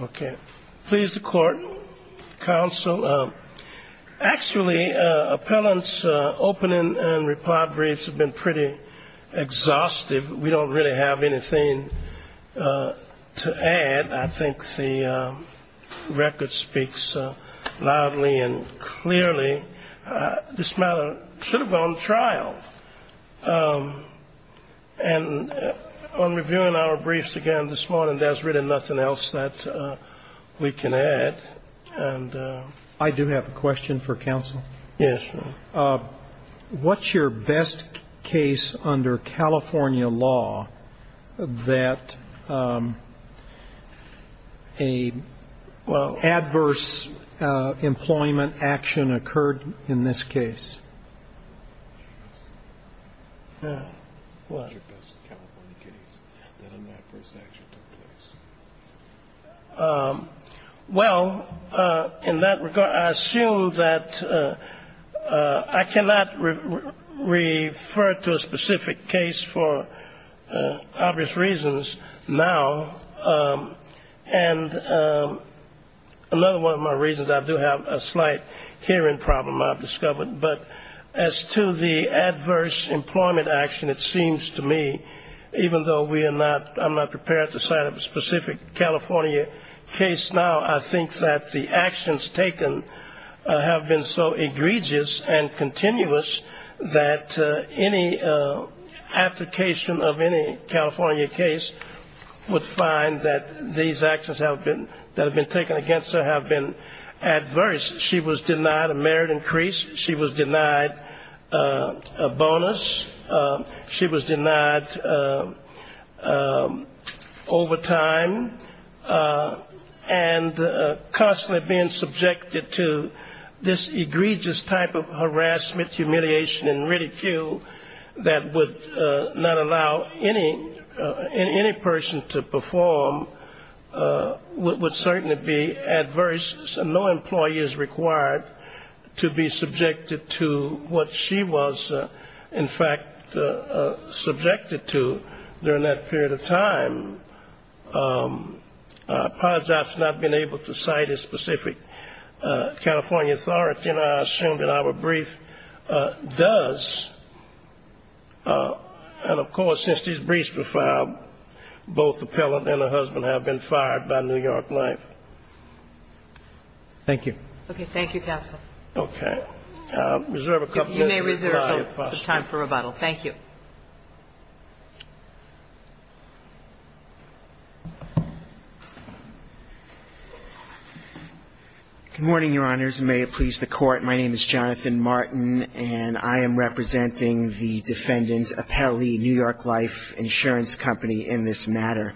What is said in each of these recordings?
Okay. Please, the court, counsel. Actually, appellants' opening and reply briefs have been pretty exhaustive. We don't really have anything to add. I think the record speaks loudly and clearly. This matter should have gone to trial. And on reviewing our briefs again this morning, there's really nothing else that I can say. I do have a question for counsel. Yes. What's your best case under California law that a adverse employment action occurred in this case? Well, in that regard, I assume that I cannot refer to a specific case for obvious reasons now. And another one of my reasons, I do have a slight hearing problem, I've discovered. But as to the adverse employment action, it seems to me, even though I'm not prepared to cite a specific California case now, I think that the actions taken have been so egregious and continuous that any application of any California case would find that these actions that have been taken against her have been adverse. She was denied a merit increase. She was denied a bonus. She was denied overtime. And constantly being subjected to this egregious type of harassment, humiliation, and ridicule that would not allow any person to perform would certainly be adverse. And no employee is required to be subjected to what she was, in fact, subjected to during that period of time. I apologize for not being able to cite a specific California authority. Thank you. Okay. Thank you, counsel. Okay. I'll reserve a couple minutes. If you may reserve some time for rebuttal. Thank you. Good morning, Your Honors. May it please the Court, my name is Jonathan Martin, and I am representing the defendant, Apelli, New York Life Insurance Company, in this matter.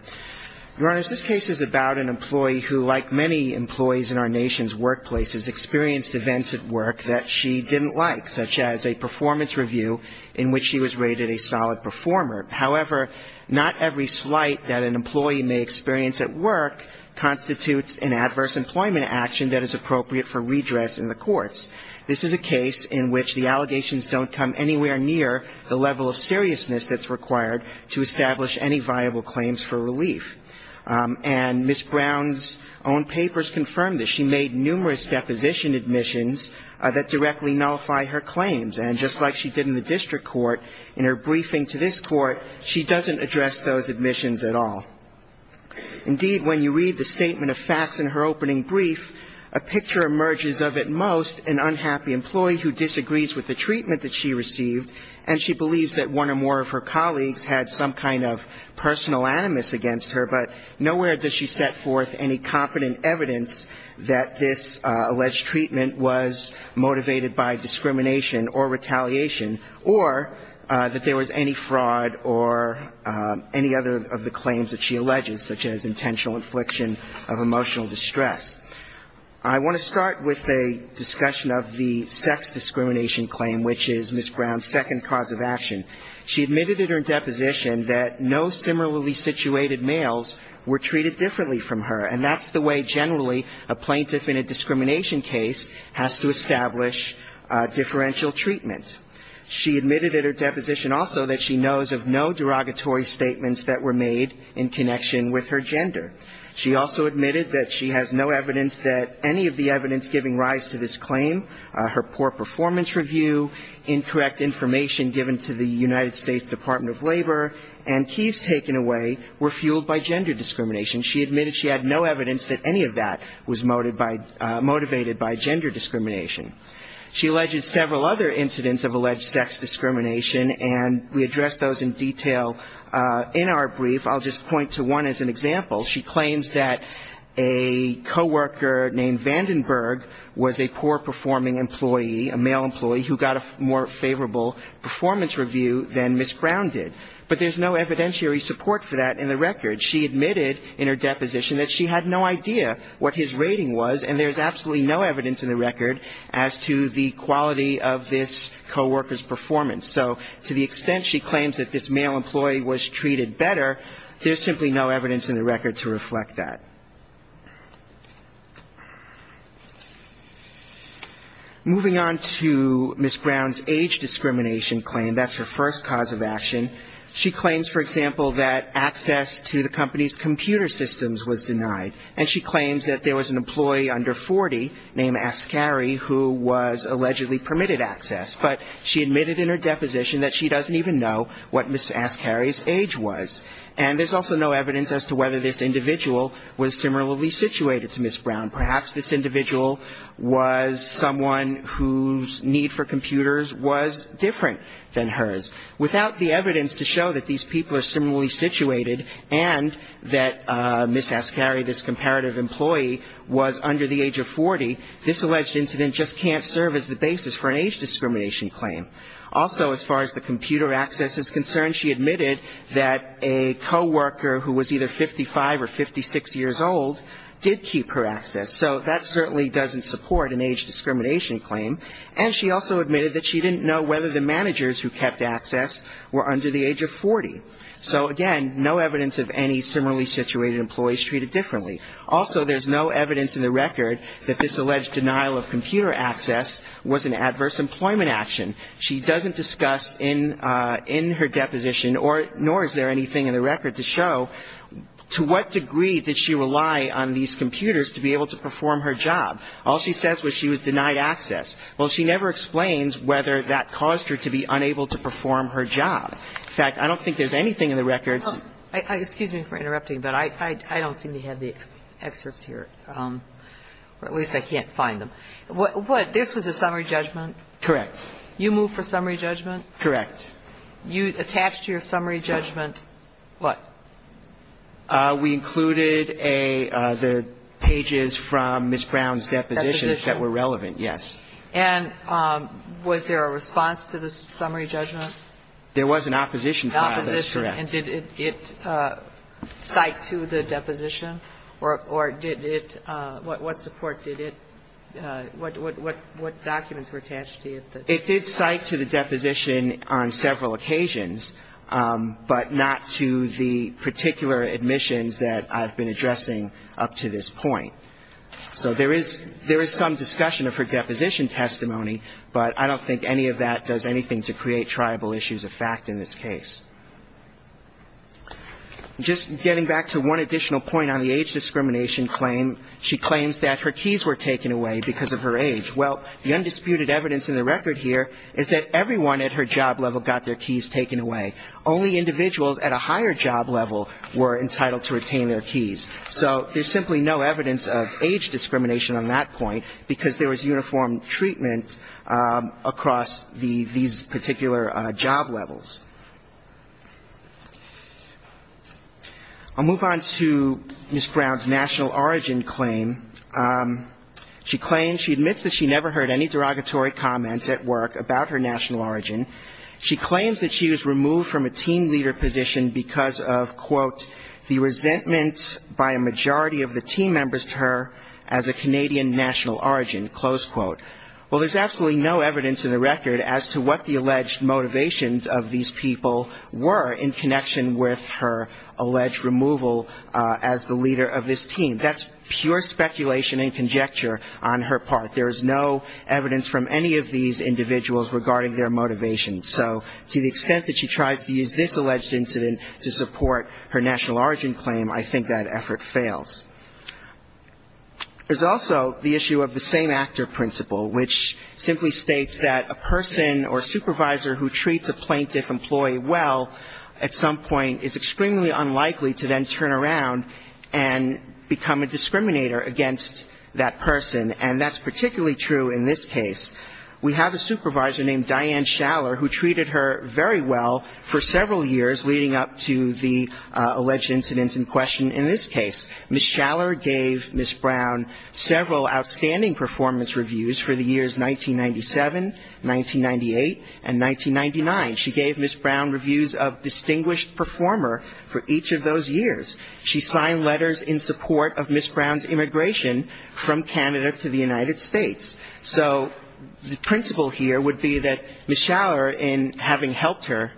Your Honors, this case is about an employee who, like many employees in our nation's workplaces, experienced events at work that she didn't like, such as a performance review in which she was rated a solid performer. However, not every slight that an employee may experience at work constitutes an adverse employment action that is appropriate for redress in the courts. This is a case in which the allegations don't come anywhere near the level of seriousness that's required to establish any viable claims for relief. And Ms. Brown's own papers confirm this. She made numerous deposition admissions that directly nullify her claims. And just like she did in the district court, in her briefing to this court, she doesn't address those admissions at all. Indeed, when you read the statement of facts in her opening brief, a picture emerges of at most an unhappy employee who disagrees with the treatment that she received, and she believes that one or more of her colleagues had some kind of personal animus against her, but nowhere does she set forth any competent evidence that this alleged treatment was motivated by discrimination or retaliation, or that there was any fraud or any other of the claims that she alleges, such as intentional infliction of emotional distress. I want to start with a discussion of the sex discrimination claim, which is Ms. Brown's second cause of action. She admitted in her deposition that no similarly situated males were treated differently from her, and that's the way generally a plaintiff in a discrimination case has to establish differential treatment. She admitted in her deposition also that she knows of no derogatory statements that were made in connection with her gender. She also admitted that she has no evidence that any of the evidence giving rise to this claim, her poor performance review, incorrect information given to the United States Department of Labor, and keys taken away were fueled by gender discrimination. She admitted she had no evidence that any of that was motivated by gender discrimination. She alleges several other incidents of alleged sex discrimination, and we address those in detail in our brief. I'll just point to one as an example. She claims that a coworker named Vandenberg was a poor-performing employee, a male employee, who got a more favorable performance review than Ms. Brown did. But there's no evidentiary support for that in the record. She admitted in her deposition that she had no idea what his rating was, and there's absolutely no evidence in the record as to the quality of this coworker's performance. So to the extent she claims that this male employee was treated better, there's simply no evidence in the record to reflect that. Moving on to Ms. Brown's age discrimination claim, that's her first cause of action. She claims, for example, that access to the company's computer systems was denied, and she claims that there was an employee under 40 named Ascari who was allegedly permitted access. But she admitted in her deposition that she doesn't even know what Ms. Ascari's age was. And there's also no evidence as to whether this individual was similarly situated to Ms. Brown. Perhaps this individual was someone whose need for computers was different than hers. Without the evidence to show that these people are similarly situated and that Ms. Ascari, this comparative employee, was under the age of 40, this alleged incident just can't serve as the basis for an age discrimination claim. Also, as far as the computer access is concerned, she admitted that a coworker who was either 55 or 56 years old did keep her access. So that certainly doesn't support an age discrimination claim. And she also admitted that she didn't know whether the managers who kept access were under the age of 40. So, again, no evidence of any similarly situated employees treated differently. Also, there's no evidence in the record that this alleged denial of computer access was an adverse employment action. She doesn't discuss in her deposition, nor is there anything in the record to show to what degree did she rely on these computers to be able to perform her job. All she says was she was denied access. Well, she never explains whether that caused her to be unable to perform her job. In fact, I don't think there's anything in the records. Kagan. Excuse me for interrupting, but I don't seem to have the excerpts here, or at least I can't find them. This was a summary judgment? Correct. You moved for summary judgment? Correct. You attached to your summary judgment what? We included the pages from Ms. Brown's deposition that were relevant, yes. And was there a response to the summary judgment? There was an opposition file. That's correct. Opposition. And did it cite to the deposition? Or did it – what support did it – what documents were attached to? It did cite to the deposition on several occasions, but not to the particular admissions that I've been addressing up to this point. So there is some discussion of her deposition testimony, but I don't think any of that does anything to create triable issues of fact in this case. Just getting back to one additional point on the age discrimination claim, she claims that her keys were taken away because of her age. Well, the undisputed evidence in the record here is that everyone at her job level got their keys taken away. Only individuals at a higher job level were entitled to retain their keys. So there's simply no evidence of age discrimination on that point because there was uniform treatment across the – these particular job levels. I'll move on to Ms. Brown's national origin claim. She claims she admits that she never heard any derogatory comments at work about her national origin. She claims that she was removed from a team leader position because of, quote, the resentment by a majority of the team members to her as a Canadian national origin, close quote. Well, there's absolutely no evidence in the record as to what the alleged motivations of these people were in connection with her alleged removal as the leader of this team. That's pure speculation and conjecture on her part. There is no evidence from any of these individuals regarding their motivations. So to the extent that she tries to use this alleged incident to support her national origin claim, I think that effort fails. There's also the issue of the same actor principle, which simply states that a person or supervisor who treats a plaintiff employee well at some point is extremely unlikely to then turn around and become a discriminator against that person. And that's particularly true in this case. We have a supervisor named Diane Schaller who treated her very well for several years leading up to the alleged incident in question in this case. Ms. Schaller gave Ms. Brown several outstanding performance reviews for the years 1997, 1998, and 1999. She gave Ms. Brown reviews of distinguished performer for each of those years. She signed letters in support of Ms. Brown's immigration from Canada to the United States. So the principle here would be that Ms. Schaller, in having helped her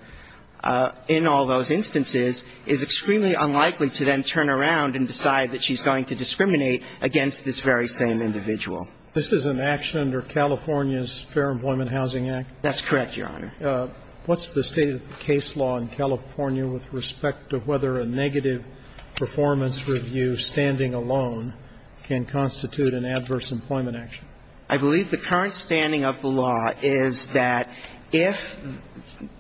in all those instances, is extremely unlikely to then turn around and decide that she's going to discriminate against this very same individual. This is an action under California's Fair Employment Housing Act? That's correct, Your Honor. What's the state of the case law in California with respect to whether a negative performance review standing alone can constitute an adverse employment action? I believe the current standing of the law is that if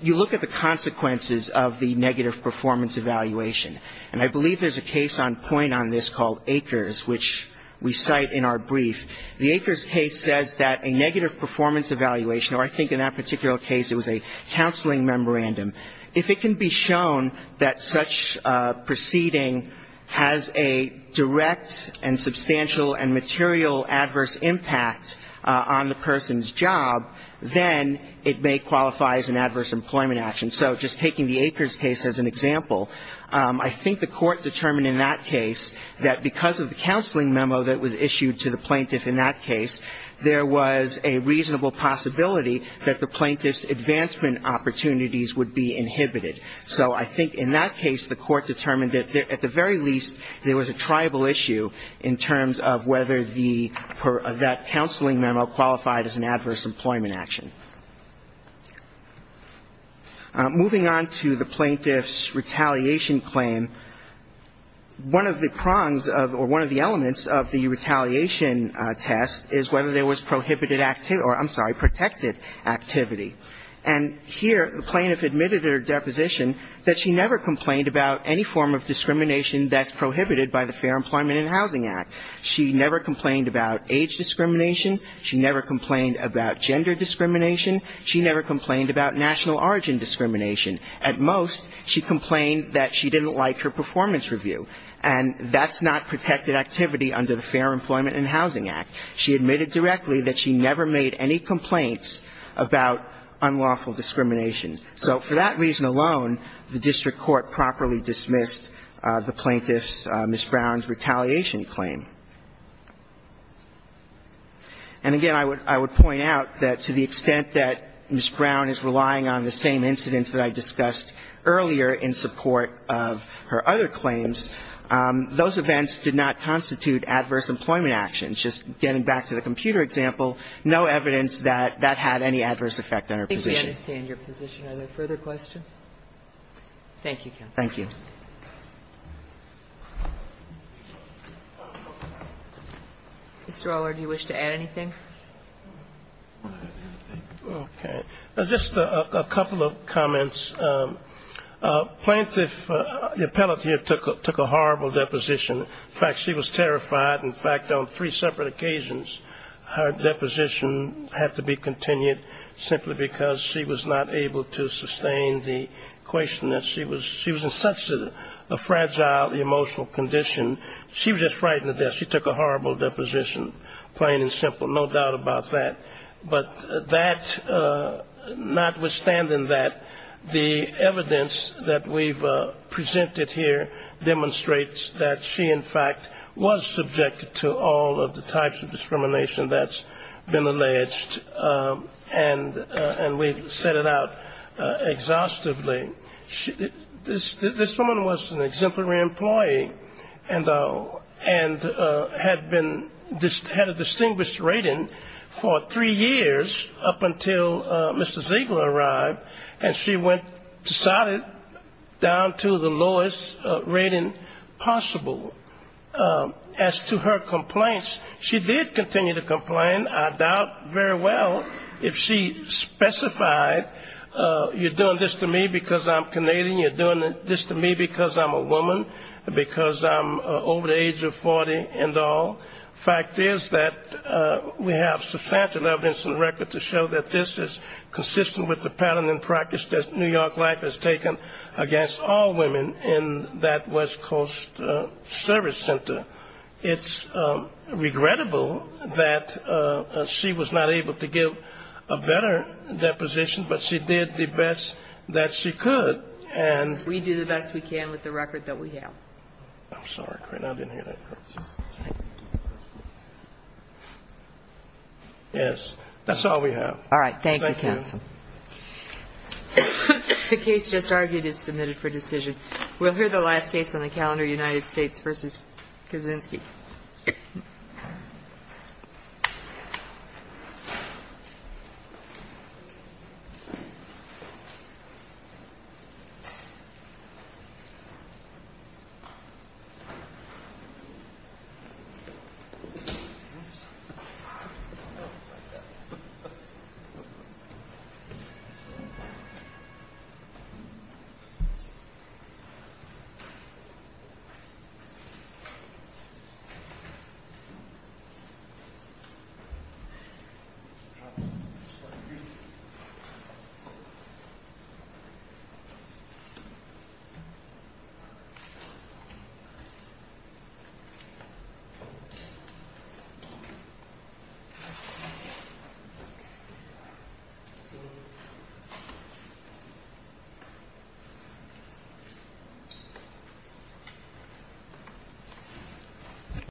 you look at the consequences of the negative performance evaluation, and I believe there's a case on point on this called Akers, which we cite in our brief, the Akers case says that a negative performance evaluation, or I think in that particular case it was a counseling memorandum, if it can be shown that such proceeding has a direct and substantial and material adverse impact on the person's job, then it may qualify as an adverse employment action. So just taking the Akers case as an example, I think the court determined in that case that because of the counseling memo that was issued to the plaintiff in that case, there was a reasonable possibility that the plaintiff's advancement opportunities would be inhibited. So I think in that case the court determined that at the very least there was a tribal issue in terms of whether the per that counseling memo qualified as an adverse employment action. Moving on to the plaintiff's retaliation claim, one of the prongs of or one of the retaliation tests is whether there was prohibited or, I'm sorry, protected activity. And here the plaintiff admitted at her deposition that she never complained about any form of discrimination that's prohibited by the Fair Employment and Housing Act. She never complained about age discrimination. She never complained about gender discrimination. She never complained about national origin discrimination. At most she complained that she didn't like her performance review. And that's not protected activity under the Fair Employment and Housing Act. She admitted directly that she never made any complaints about unlawful discrimination. So for that reason alone, the district court properly dismissed the plaintiff's Ms. Brown's retaliation claim. And again, I would point out that to the extent that Ms. Brown is relying on the same incidents that I discussed earlier in support of her other claims, those events did not constitute adverse employment actions. Just getting back to the computer example, no evidence that that had any adverse effect on her position. I think we understand your position. Are there further questions? Thank you, counsel. Thank you. Mr. Allard, do you wish to add anything? Okay. Just a couple of comments. Plaintiff, the appellate here took a horrible deposition. In fact, she was terrified. In fact, on three separate occasions, her deposition had to be continued simply because she was not able to sustain the question that she was in such a fragile emotional condition. She was just filled out about that. But that, notwithstanding that, the evidence that we've presented here demonstrates that she, in fact, was subjected to all of the types of discrimination that's been alleged. And we've set it out exhaustively. This woman was an exemplary employee and had been, had a distinguished rating for three years up until Mr. Ziegler arrived, and she decided down to the lowest rating possible. As to her complaints, she did continue to complain. I doubt very well if she specified you're doing this to me because I'm Canadian, you're doing this to me because I'm a woman, because I'm over the age of 40 and all. The fact is that we have substantial evidence and record to show that this is consistent with the pattern and practice that New York Life has taken against all women in that West Coast service center. It's regrettable that she was not able to give a better deposition, but she did the best that she could, and we do the best we can with the record that we have. Yes. That's all we have. All right. Thank you, counsel. The case just argued is submitted for decision. We'll hear the last case on the calendar, United States v. Kaczynski. Thank you. Thank you.